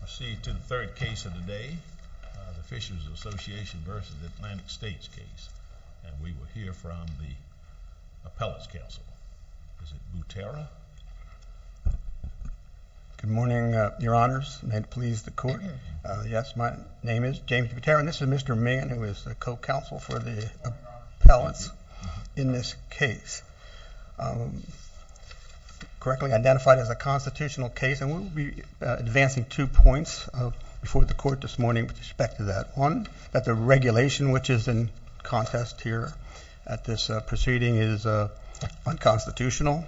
We'll proceed to the third case of the day, the Fisheries Association v. Atlantic States case, and we will hear from the appellate's counsel, Mr. Butera. Good morning, your honors. May it please the court? Yes, my name is James Butera, and this is Mr. Mann, who is the co-counsel for the appellate's in this case. The case is correctly identified as a constitutional case, and we will be advancing two points before the court this morning with respect to that. One, that the regulation which is in contest here at this proceeding is unconstitutional,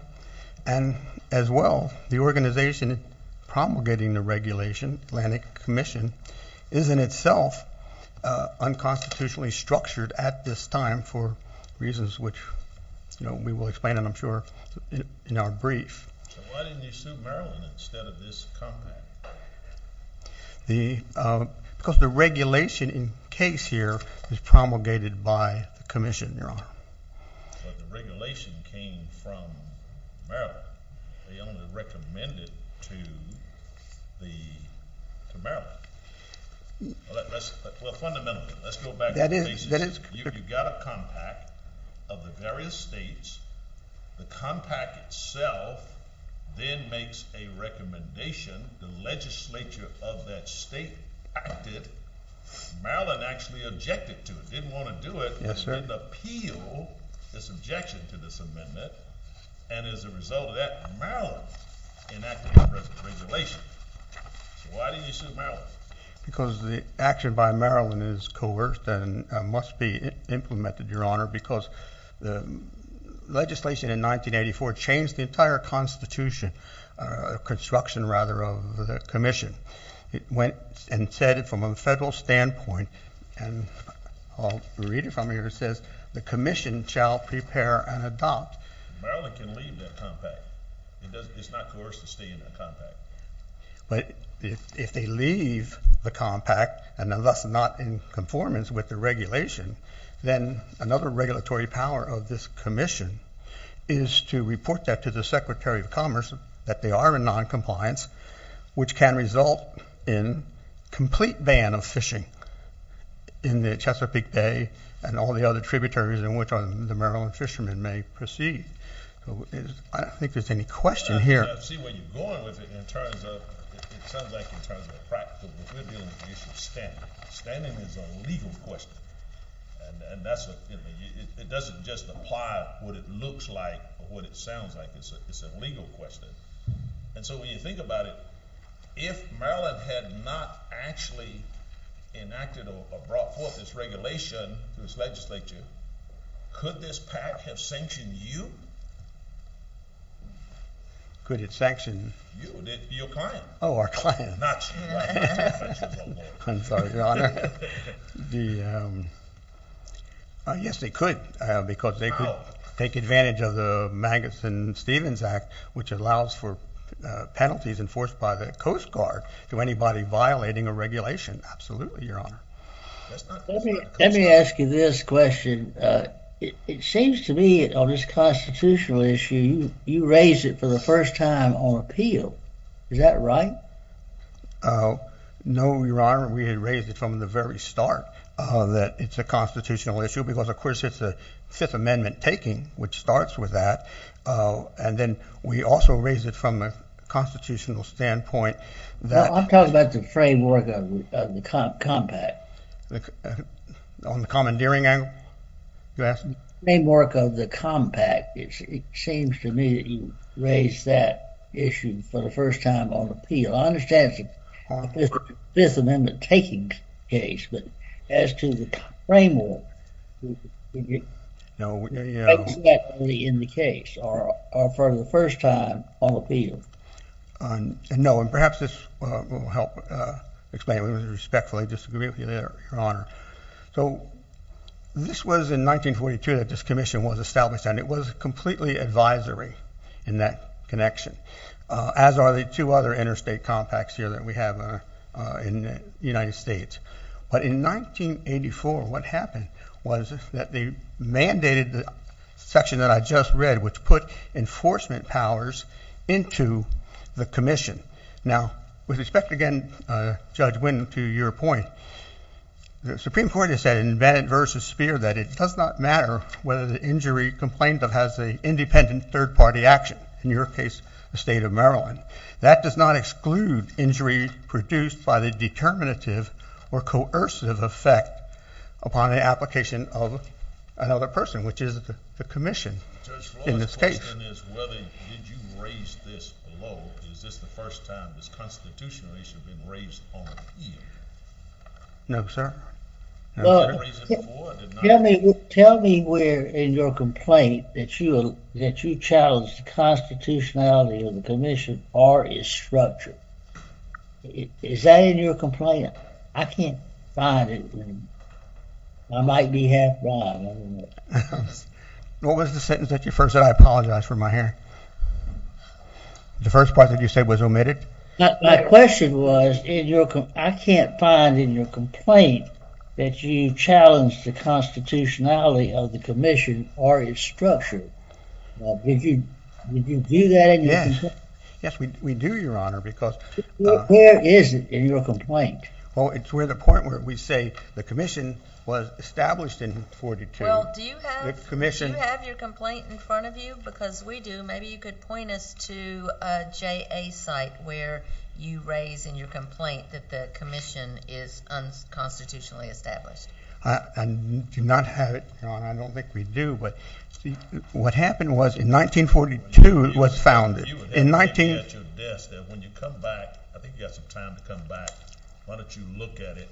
and as well, the organization promulgating the regulation, Atlantic Commission, is in itself unconstitutionally structured at this time, for reasons which we will explain, I'm sure, in our brief. So why didn't you sue Maryland instead of this Congress? Because the regulation in case here is promulgated by the commission, your honor. But the regulation came from Maryland. They only recommended it to Maryland. Well, fundamentally, let's go back to the basis. You got a compact of the various states. The compact itself then makes a recommendation. The legislature of that state acted. Maryland actually objected to it, didn't want to do it, didn't appeal this objection to this amendment, and as a result of that, Maryland enacted this regulation. So why didn't you sue Maryland? Because the action by Maryland is coerced and must be implemented, your honor, because the legislation in 1984 changed the entire constitution, construction rather, of the commission. It went and said it from a federal standpoint, and I'll read it from here. It says, the commission shall prepare and adopt. Maryland can leave that compact. It's not coerced to stay in that compact. But if they leave the compact and are thus not in conformance with the regulation, then another regulatory power of this commission is to report that to the Secretary of Commerce that they are in noncompliance, which can result in complete ban of fishing in the Chesapeake Bay and all the other tributaries in which the Maryland fishermen may proceed. I don't think there's any question here. I see where you're going with it in terms of standing. Standing is a legal question, and it doesn't just apply what it looks like or what it sounds like. It's a legal question. And so when you think about it, if Maryland had not actually enacted or brought forth this regulation to its legislature, could this pact have sanctioned you? Could it sanction you? Your client. Oh, our client. Not you. I'm sorry, Your Honor. Yes, it could, because they could take advantage of the Magnuson-Stevens Act, which allows for penalties enforced by the Coast Guard to anybody violating a regulation. Absolutely, Your Honor. Let me ask you this question. It seems to me on this constitutional issue, you raised it for the first time on appeal. Is that right? No, Your Honor. We had raised it from the very start that it's a constitutional issue because, of course, it's a Fifth Amendment taking, which starts with that. And then we also raised it from a constitutional standpoint. I'm talking about the framework of the compact. On the commandeering angle, you're asking? Framework of the compact. It seems to me that you raised that issue for the first time on appeal. I understand it's a Fifth Amendment taking case, but as to the framework, is it exactly in the case or for the first time on appeal? No, and perhaps this will help explain it. We respectfully disagree with you there, Your Honor. So this was in 1942 that this commission was established, and it was completely advisory in that connection, as are the two other interstate compacts here that we have in the United States. But in 1984, what happened was that they mandated the section that I just read, which put enforcement powers into the commission. Now, with respect, again, Judge Wynn, to your point, the Supreme Court has said in Bennett v. Speer that it does not matter whether the injury complained of has an independent third-party action, in your case, the state of Maryland. That does not exclude injury produced by the determinative or coercive effect upon the application of another person, which is the commission in this case. Judge, my question is whether you raised this below. Is this the first time this constitutional issue has been raised on appeal? No, sir. Tell me where in your complaint that you challenged the constitutionality of the commission or its structure. Is that in your complaint? I can't find it. I might be half-blind. What was the sentence that you first said? I apologize for my hair. The first part that you said was omitted? My question was, I can't find in your complaint that you challenged the constitutionality of the commission or its structure. Did you do that in your complaint? Yes. Yes, we do, Your Honor. Where is it in your complaint? Well, it's where the point where we say the commission was established in 1942. Well, do you have your complaint in front of you? Because we do. Maybe you could point us to a JA site where you raise in your complaint that the commission is unconstitutionally established. I do not have it, Your Honor. I don't think we do, but what happened was in 1942 it was founded. You would have it at your desk that when you come back, I think you have some time to come back, why don't you look at it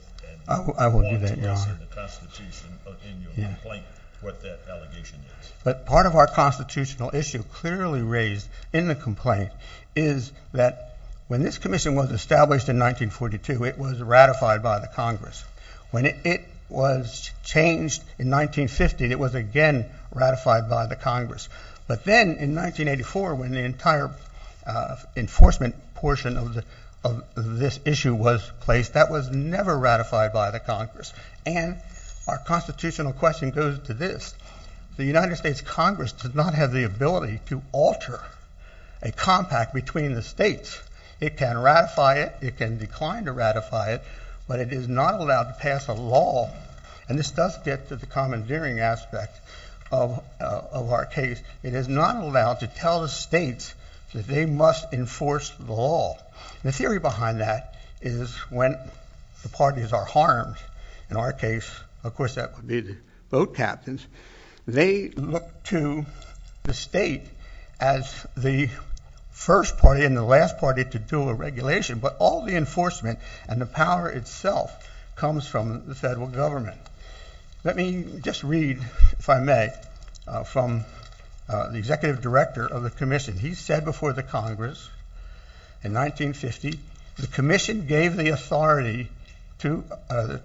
and point us in your complaint what that allegation is. But part of our constitutional issue clearly raised in the complaint is that when this commission was established in 1942, it was ratified by the Congress. When it was changed in 1950, it was again ratified by the Congress. But then in 1984 when the entire enforcement portion of this issue was placed, that was never ratified by the Congress. And our constitutional question goes to this. The United States Congress does not have the ability to alter a compact between the states. It can ratify it, it can decline to ratify it, but it is not allowed to pass a law. And this does get to the commandeering aspect of our case. It is not allowed to tell the states that they must enforce the law. The theory behind that is when the parties are harmed, in our case, of course that would be the boat captains, they look to the state as the first party and the last party to do a regulation. But all the enforcement and the power itself comes from the federal government. Let me just read, if I may, from the executive director of the commission. He said before the Congress in 1950, the commission gave the authority to,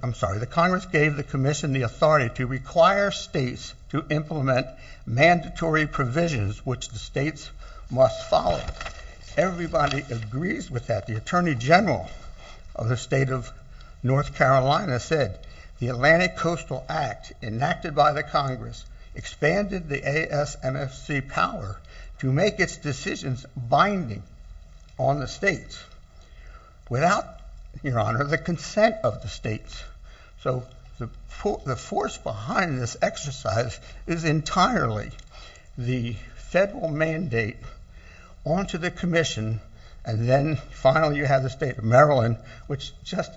I'm sorry, the Congress gave the commission the authority to require states to implement mandatory provisions which the states must follow. Everybody agrees with that. The attorney general of the state of North Carolina said the Atlantic Coastal Act enacted by the Congress expanded the ASMFC power to make its decisions binding on the states without, Your Honor, the consent of the states. So the force behind this exercise is entirely the federal mandate onto the commission, and then finally you have the state of Maryland, which just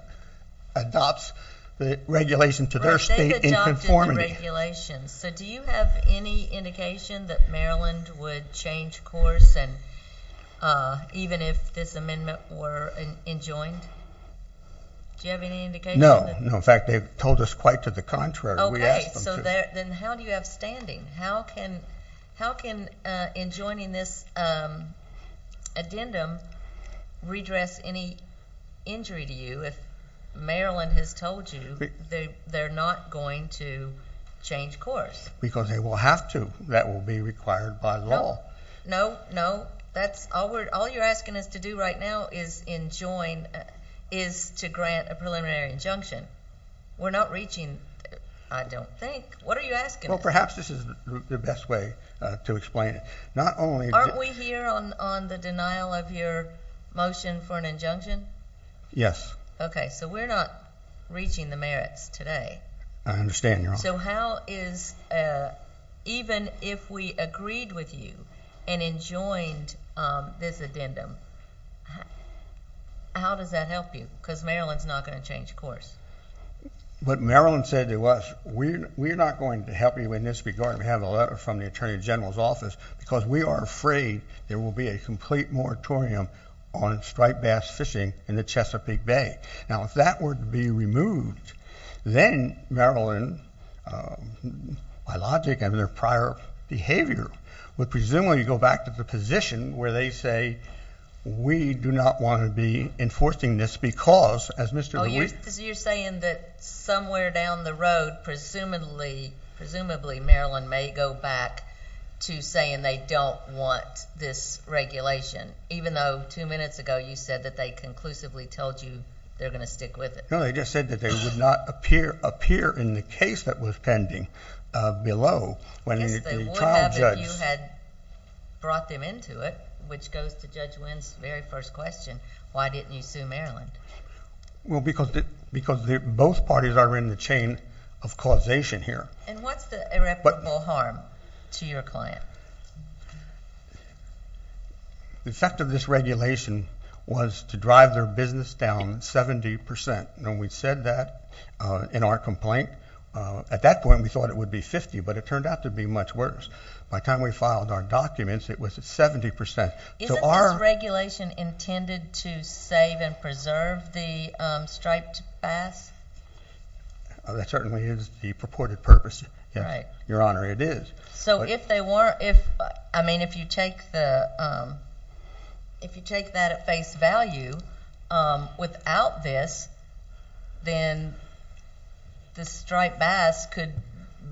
adopts the regulation to their state in conformity. So do you have any indication that Maryland would change course even if this amendment were enjoined? Do you have any indication? No. In fact, they've told us quite to the contrary. We asked them to. So then how do you have standing? How can enjoining this addendum redress any injury to you if Maryland has told you they're not going to change course? Because they will have to. That will be required by law. No, no, no. All you're asking us to do right now is to grant a preliminary injunction. We're not reaching, I don't think. What are you asking? Well, perhaps this is the best way to explain it. Aren't we here on the denial of your motion for an injunction? Yes. Okay. So we're not reaching the merits today. I understand, Your Honor. So how is, even if we agreed with you and enjoined this addendum, how does that help you? Because Maryland's not going to change course. What Maryland said to us, we're not going to help you in this regard. We have a letter from the Attorney General's office because we are afraid there will be a complete moratorium on striped bass fishing in the Chesapeake Bay. Now, if that were to be removed, then Maryland, by logic of their prior behavior, would presumably go back to the position where they say, we do not want to be enforcing this because, as Mr. LeWitt... Oh, you're saying that somewhere down the road, presumably Maryland may go back to saying they don't want this regulation, even though two minutes ago you said that they conclusively told you they're going to stick with it. No, they just said that they would not appear in the case that was pending below when the trial judge... That was the judge's very first question. Why didn't you sue Maryland? Well, because both parties are in the chain of causation here. And what's the irreparable harm to your client? The effect of this regulation was to drive their business down 70%. When we said that in our complaint, at that point we thought it would be 50%, but it turned out to be much worse. By the time we filed our documents, it was at 70%. Isn't this regulation intended to save and preserve the striped bass? That certainly is the purported purpose. Your Honor, it is. So if you take that at face value, without this, then the striped bass could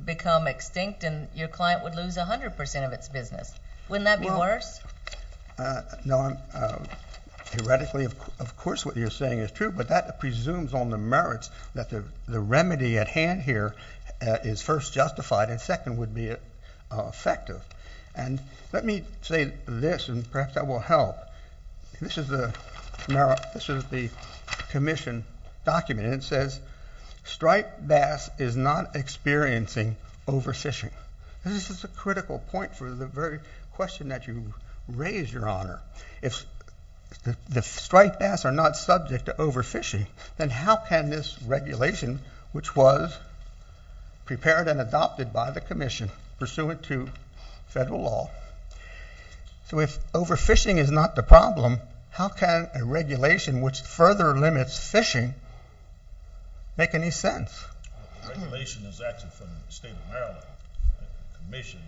become extinct, and your client would lose 100% of its business. Wouldn't that be worse? No, theoretically, of course what you're saying is true, but that presumes on the merits that the remedy at hand here is first justified and second would be effective. And let me say this, and perhaps that will help. This is the commission document, and it says, Striped bass is not experiencing overfishing. This is a critical point for the very question that you raised, your Honor. If the striped bass are not subject to overfishing, then how can this regulation, which was prepared and adopted by the commission pursuant to federal law, So if overfishing is not the problem, how can a regulation which further limits fishing make any sense? The regulation is actually from the state of Maryland. The commission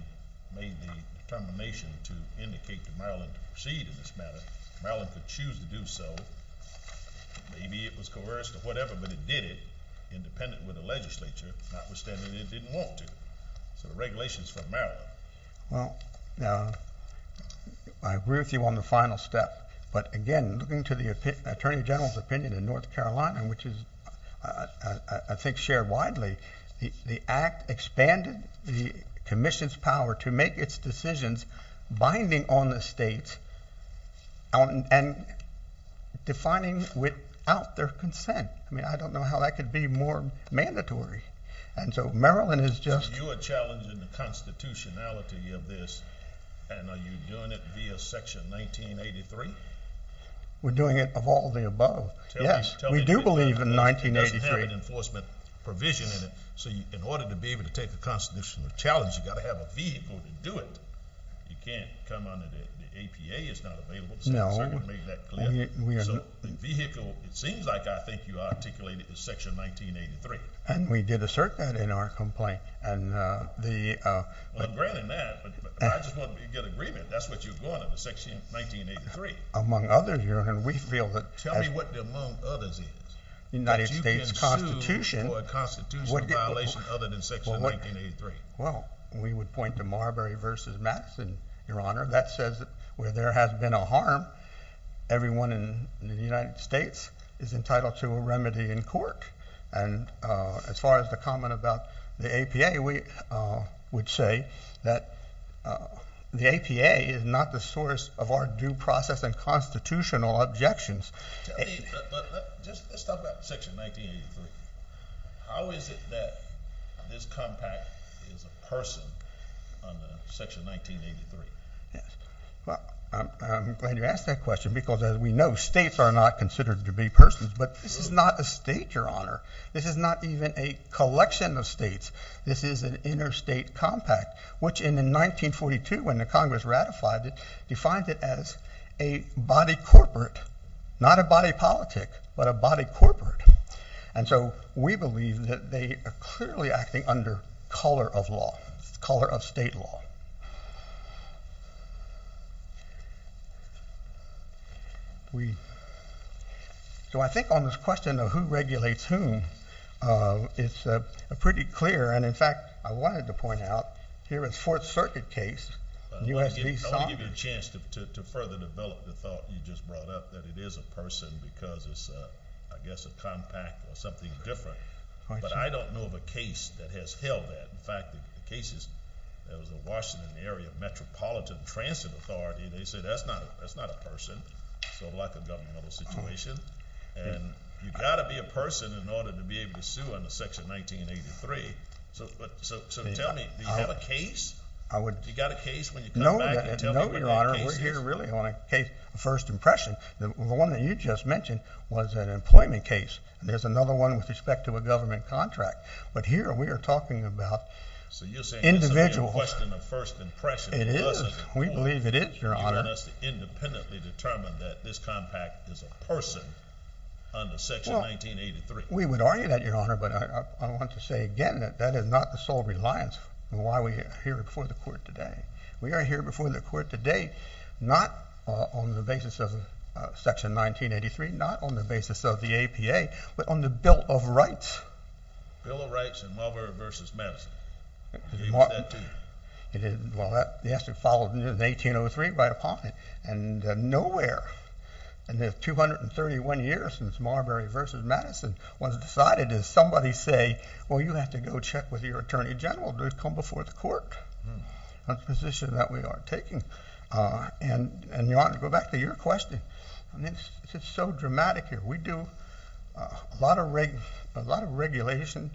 made the determination to indicate to Maryland to proceed in this matter. Maryland could choose to do so. Maybe it was coerced or whatever, but it did it, independent with the legislature, notwithstanding it didn't want to. So the regulation is from Maryland. Well, I agree with you on the final step, but again, looking to the Attorney General's opinion in North Carolina, which is I think shared widely, the act expanded the commission's power to make its decisions binding on the states and defining without their consent. I mean, I don't know how that could be more mandatory. And so Maryland is just So you're challenging the constitutionality of this, and are you doing it via Section 1983? We're doing it of all the above. Yes, we do believe in 1983. It doesn't have an enforcement provision in it. So in order to be able to take a constitutional challenge, you've got to have a vehicle to do it. You can't come under the APA. It's not available. No. So the vehicle, it seems like I think you articulated the Section 1983. And we did assert that in our complaint. Well, granted that, but I just wanted to get agreement. That's what you wanted, the Section 1983. Among others, Your Honor, we feel that Tell me what the among others is. United States Constitution That you can sue for a constitutional violation other than Section 1983. Well, we would point to Marbury v. Madison, Your Honor. That says where there has been a harm, everyone in the United States is entitled to a remedy in court. And as far as the comment about the APA, we would say that the APA is not the source of our due process and constitutional objections. Let's talk about Section 1983. How is it that this compact is a person under Section 1983? Well, I'm glad you asked that question because as we know, states are not considered to be persons. But this is not a state, Your Honor. This is not even a collection of states. This is an interstate compact, which in 1942 when the Congress ratified it, defined it as a body corporate. Not a body politic, but a body corporate. And so we believe that they are clearly acting under color of law, color of state law. So I think on this question of who regulates whom, it's pretty clear. And, in fact, I wanted to point out here is a Fourth Circuit case. Let me give you a chance to further develop the thought you just brought up that it is a person because it's, I guess, a compact or something different. But I don't know of a case that has held that. In fact, the cases that was a Washington area metropolitan transit authority, they said that's not a person. So a lack of governmental situation. And you've got to be a person in order to be able to sue under Section 1983. So tell me, do you have a case? Do you got a case when you come back and tell me where your case is? We're here really on a case of first impression. The one that you just mentioned was an employment case. There's another one with respect to a government contract. But here we are talking about individual. So you're saying this will be a question of first impression. It is. We believe it is, Your Honor. You want us to independently determine that this compact is a person under Section 1983. Well, we would argue that, Your Honor. But I want to say again that that is not the sole reliance on why we are here before the Court today. We are here before the Court today not on the basis of Section 1983, not on the basis of the APA, but on the bill of rights. Bill of rights in Marbury v. Madison. Well, yes, it followed in 1803 by appointment. And nowhere in the 231 years since Marbury v. Madison was decided does somebody say, well, you have to go check with your Attorney General to come before the Court. That's the position that we are taking. And, Your Honor, to go back to your question, it's so dramatic here. We do a lot of regulation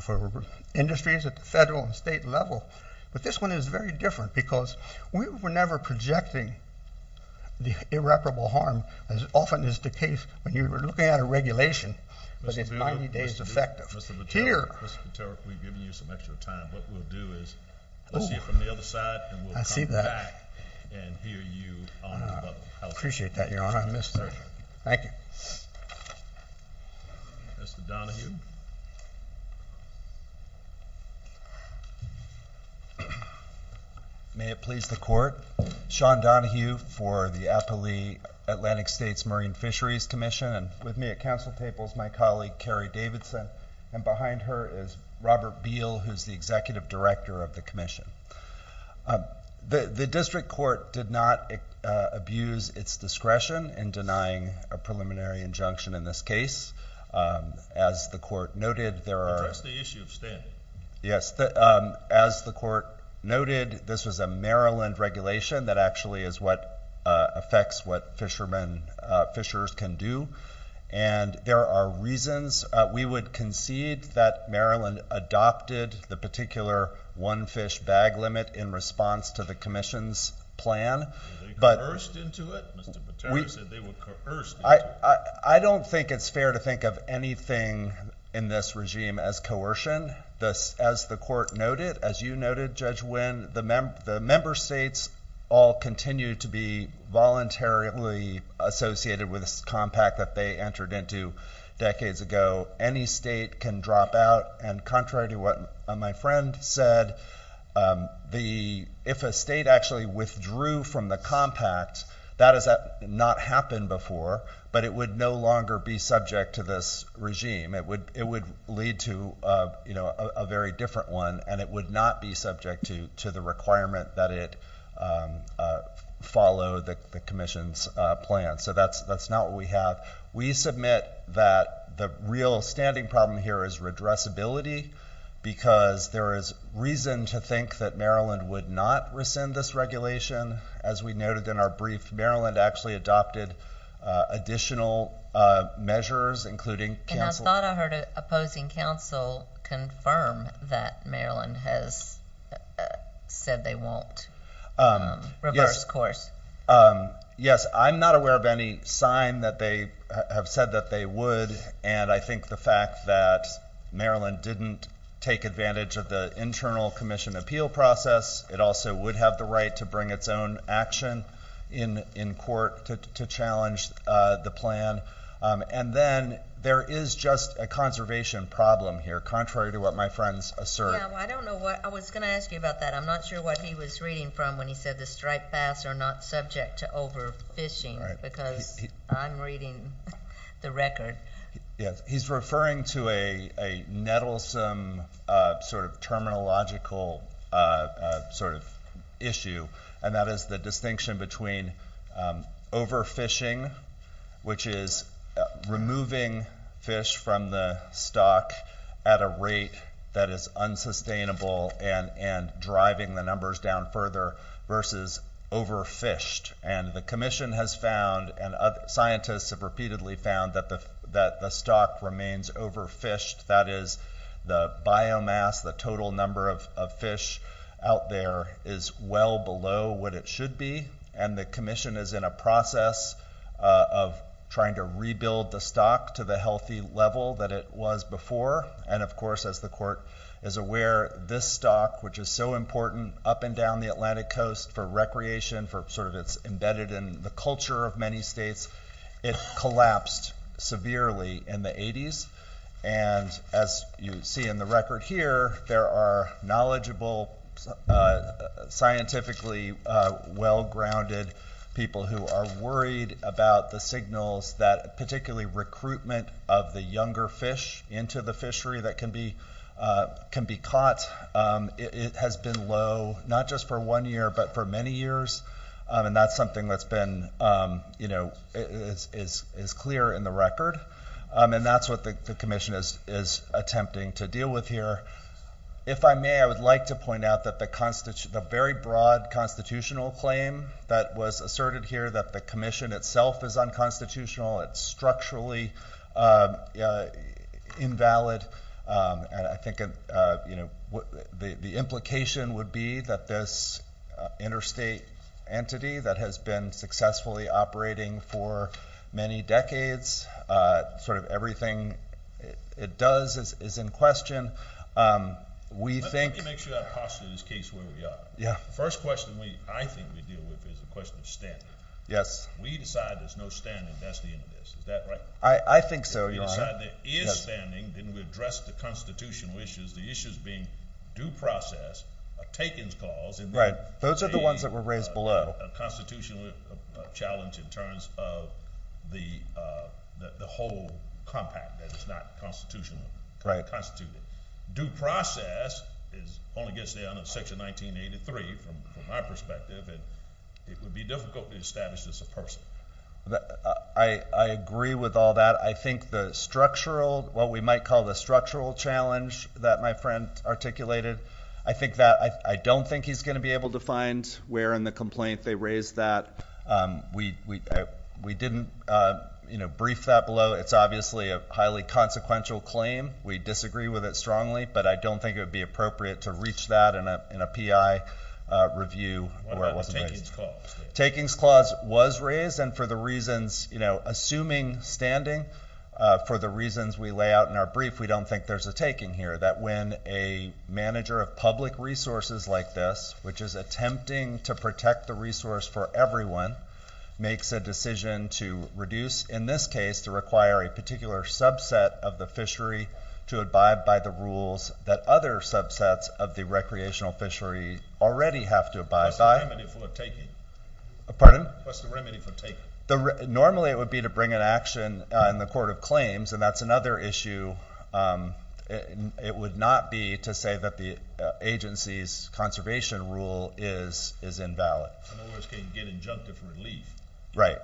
for industries at the federal and state level, but this one is very different because we were never projecting the irreparable harm as often is the case when you're looking at a regulation, but it's 90 days effective. Mr. Voteric, we've given you some extra time. What we'll do is we'll see you from the other side, and we'll come back and hear you on. I appreciate that, Your Honor. Thank you. Mr. Donohue. May it please the Court. Sean Donohue for the Appali Atlantic States Marine Fisheries Commission, and with me at council table is my colleague, Carrie Davidson, and behind her is Robert Beal, who is the Executive Director of the Commission. The District Court did not abuse its discretion in denying a preliminary injunction in this case. As the Court noted, there are... That's the issue, Stan. Yes. As the Court noted, this was a Maryland regulation that actually is what affects what fishermen, fishers can do, and there are reasons we would concede that Maryland adopted the particular one fish bag limit in response to the Commission's plan. Were they coerced into it? Mr. Voteric said they were coerced into it. I don't think it's fair to think of anything in this regime as coercion. As the Court noted, as you noted, Judge Wynn, the member states all continue to be voluntarily associated with this compact that they entered into decades ago. Any state can drop out, and contrary to what my friend said, if a state actually withdrew from the compact, that has not happened before, but it would no longer be subject to this regime. It would lead to a very different one, and it would not be subject to the requirement that it follow the Commission's plan. So that's not what we have. We submit that the real standing problem here is redressability because there is reason to think that Maryland would not rescind this regulation. As we noted in our brief, Maryland actually adopted additional measures, including counsel. And I thought I heard opposing counsel confirm that Maryland has said they won't reverse course. Yes, I'm not aware of any sign that they have said that they would, and I think the fact that Maryland didn't take advantage of the internal Commission appeal process, it also would have the right to bring its own action in court to challenge the plan. And then there is just a conservation problem here, contrary to what my friends assert. I was going to ask you about that. I'm not sure what he was reading from when he said the striped bass are not subject to overfishing because I'm reading the record. He's referring to a nettlesome sort of terminological sort of issue, and that is the distinction between overfishing, which is removing fish from the stock at a rate that is unsustainable and driving the numbers down further, versus overfished. And the Commission has found, and scientists have repeatedly found, that the stock remains overfished. That is, the biomass, the total number of fish out there, is well below what it should be, and the Commission is in a process of trying to rebuild the stock to the healthy level that it was before. And, of course, as the Court is aware, this stock, which is so important up and down the Atlantic coast for recreation, for sort of its embedded in the culture of many states, it collapsed severely in the 80s. And as you see in the record here, there are knowledgeable, scientifically well-grounded people who are worried about the signals that, particularly recruitment of the younger fish into the fishery that can be caught. It has been low, not just for one year, but for many years, and that's something that's been, you know, is clear in the record. And that's what the Commission is attempting to deal with here. If I may, I would like to point out that the very broad constitutional claim that was asserted here, that the Commission itself is unconstitutional, it's structurally invalid, and I think the implication would be that this interstate entity that has been successfully operating for many decades, sort of everything it does is in question. Let me make sure I posture this case where we are. The first question I think we deal with is the question of standard. We decide there's no standing, that's the end of this. Is that right? I think so, Your Honor. If we decide there is standing, then we address the constitutional issues, the issues being due process, a takings clause. Those are the ones that were raised below. A constitutional challenge in terms of the whole compact, that it's not constitutional. Due process only gets down to Section 1983 from my perspective, and it would be difficult to establish as a person. I agree with all that. I think the structural, what we might call the structural challenge that my friend articulated, I think that I don't think he's going to be able to find where in the complaint they raised that. We didn't brief that below. It's obviously a highly consequential claim. We disagree with it strongly, but I don't think it would be appropriate to reach that in a PI review where it wasn't raised. What about the takings clause? Takings clause was raised, and for the reasons, you know, assuming standing for the reasons we lay out in our brief, we don't think there's a taking here, that when a manager of public resources like this, which is attempting to protect the resource for everyone, makes a decision to reduce, in this case, to require a particular subset of the fishery to abide by the rules that other subsets of the recreational fishery already have to abide by. What's the remedy for taking? Pardon? What's the remedy for taking? Normally it would be to bring an action in the court of claims, and that's another issue. It would not be to say that the agency's conservation rule is invalid. In other words, can you get injunctive relief? Right.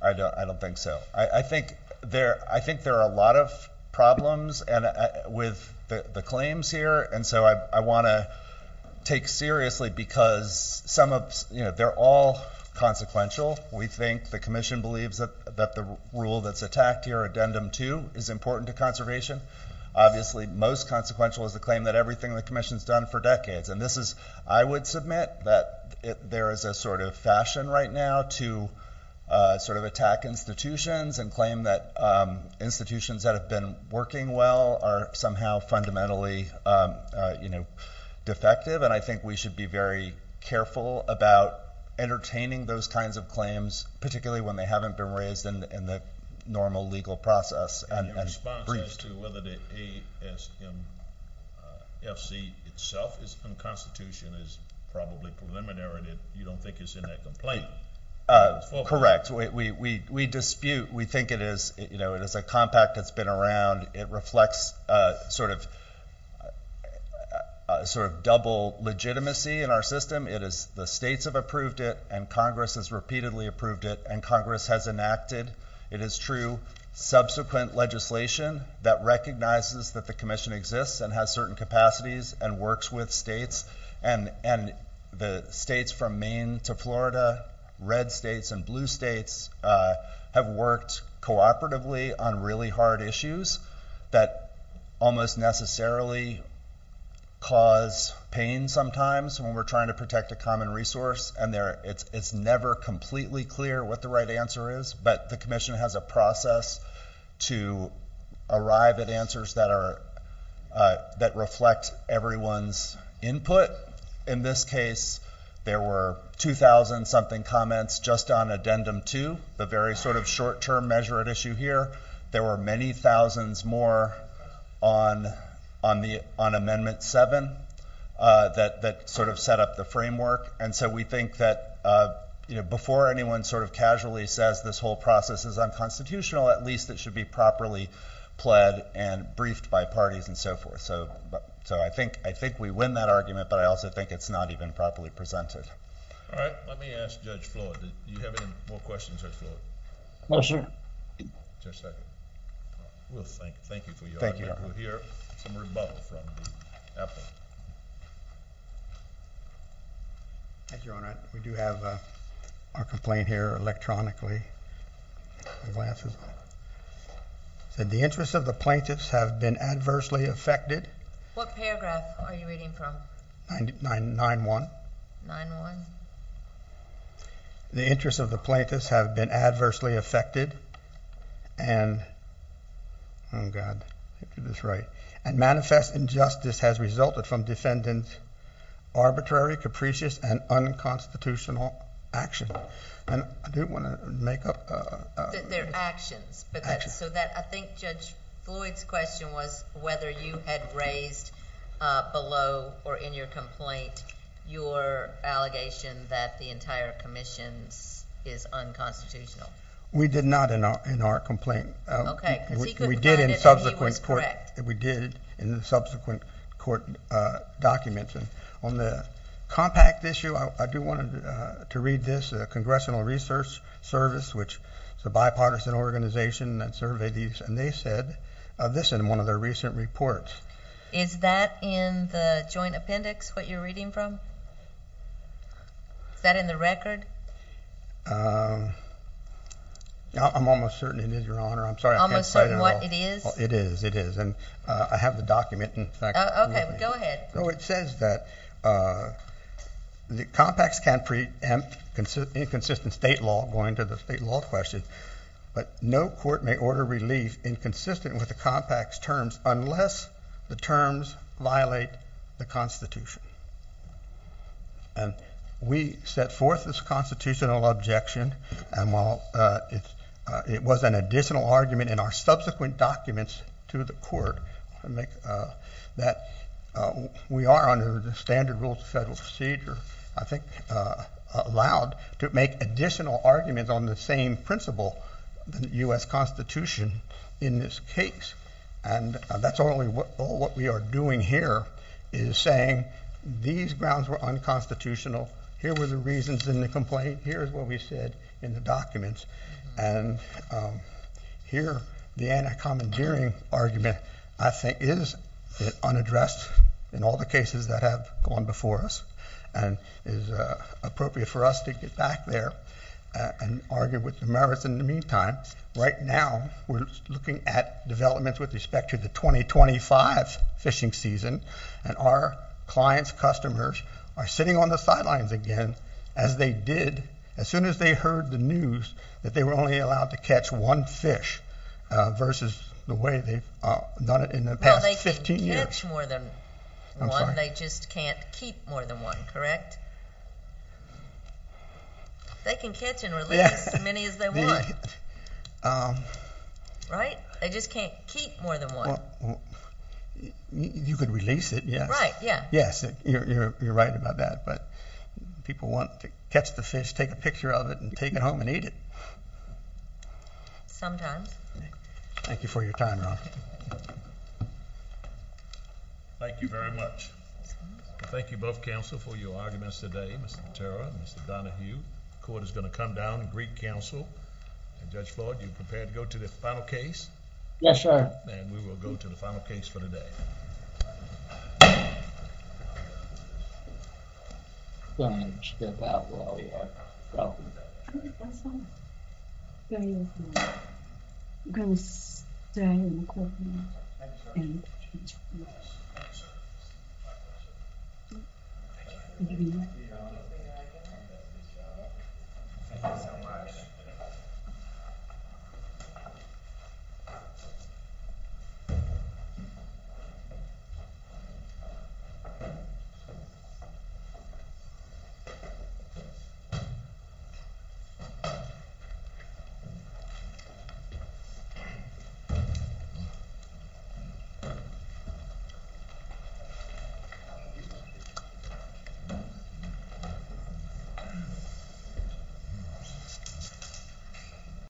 I don't think so. I think there are a lot of problems with the claims here, and so I want to take seriously because they're all consequential. We think the commission believes that the rule that's attacked here, Addendum 2, is important to conservation. Obviously most consequential is the claim that everything the commission's done for decades, and this is, I would submit, that there is a sort of fashion right now to sort of attack institutions and claim that institutions that have been working well are somehow fundamentally defective, and I think we should be very careful about entertaining those kinds of claims, particularly when they haven't been raised in the normal legal process. And your response as to whether the ASMFC itself is unconstitutional is probably preliminary. You don't think it's in that complaint? Correct. We dispute. We think it is a compact that's been around. It reflects sort of double legitimacy in our system. The states have approved it, and Congress has repeatedly approved it, and Congress has enacted, it is true, subsequent legislation that recognizes that the commission exists and has certain capacities and works with states, and the states from Maine to Florida, red states and blue states, have worked cooperatively on really hard issues that almost necessarily cause pain sometimes when we're trying to protect a common resource, and it's never completely clear what the right answer is, but the commission has a process to arrive at answers that reflect everyone's input. In this case, there were 2,000-something comments just on Addendum 2, the very sort of short-term measure at issue here. There were many thousands more on Amendment 7 that sort of set up the framework, and so we think that before anyone sort of casually says this whole process is unconstitutional, at least it should be properly pled and briefed by parties and so forth. So I think we win that argument, but I also think it's not even properly presented. All right. Let me ask Judge Floyd. Do you have any more questions, Judge Floyd? No, sir. Just a second. Well, thank you for your argument. We'll hear some rebuttal from the appellate. Thank you, Your Honor. We do have our complaint here electronically. The interest of the plaintiffs have been adversely affected. What paragraph are you reading from? 9-1. 9-1. The interest of the plaintiffs have been adversely affected and manifest injustice has resulted from defendant's arbitrary, capricious, and unconstitutional action. I do want to make up... They're actions. Actions. I think Judge Floyd's question was whether you had raised below or in your complaint your allegation that the entire commission is unconstitutional. We did not in our complaint. Okay, because he could find it and he was correct. We did in the subsequent court documents. On the compact issue, I do want to read this. Congressional Research Service, which is a bipartisan organization that surveyed these, and they said this in one of their recent reports. Is that in the joint appendix what you're reading from? Is that in the record? I'm almost certain it is, Your Honor. I'm sorry, I can't say it at all. Almost certain what it is? It is. It is. And I have the document. Okay, go ahead. It says that the compacts can preempt inconsistent state law, going to the state law question, but no court may order relief inconsistent with the compacts terms unless the terms violate the Constitution. And we set forth this constitutional objection, and while it was an additional argument in our subsequent documents to the court, that we are under the standard rules of federal procedure, I think allowed to make additional arguments on the same principle, the U.S. Constitution, in this case. And that's only what we are doing here is saying these grounds were unconstitutional. Here were the reasons in the complaint. Here is what we said in the documents. And here the anti-commandeering argument I think is unaddressed in all the cases that have gone before us and is appropriate for us to get back there and argue with the merits. In the meantime, right now we're looking at developments with respect to the 2025 fishing season, and our clients, customers, are sitting on the sidelines again as they did as soon as they heard the news that they were only allowed to catch one fish versus the way they've done it in the past 15 years. Well, they can catch more than one. I'm sorry. They just can't keep more than one, correct? They can catch and release as many as they want, right? They just can't keep more than one. Well, you could release it, yes. Right, yeah. Yes, you're right about that. But people want to catch the fish, take a picture of it, and take it home and eat it. Sometimes. Thank you for your time, Ron. Thank you very much. Thank you both counsel for your arguments today, Mr. Patera and Mr. Donahue. The court is going to come down and greet counsel. Judge Floyd, are you prepared to go to the final case? Yes, Your Honor. Then we will go to the final case for the day. Thank you.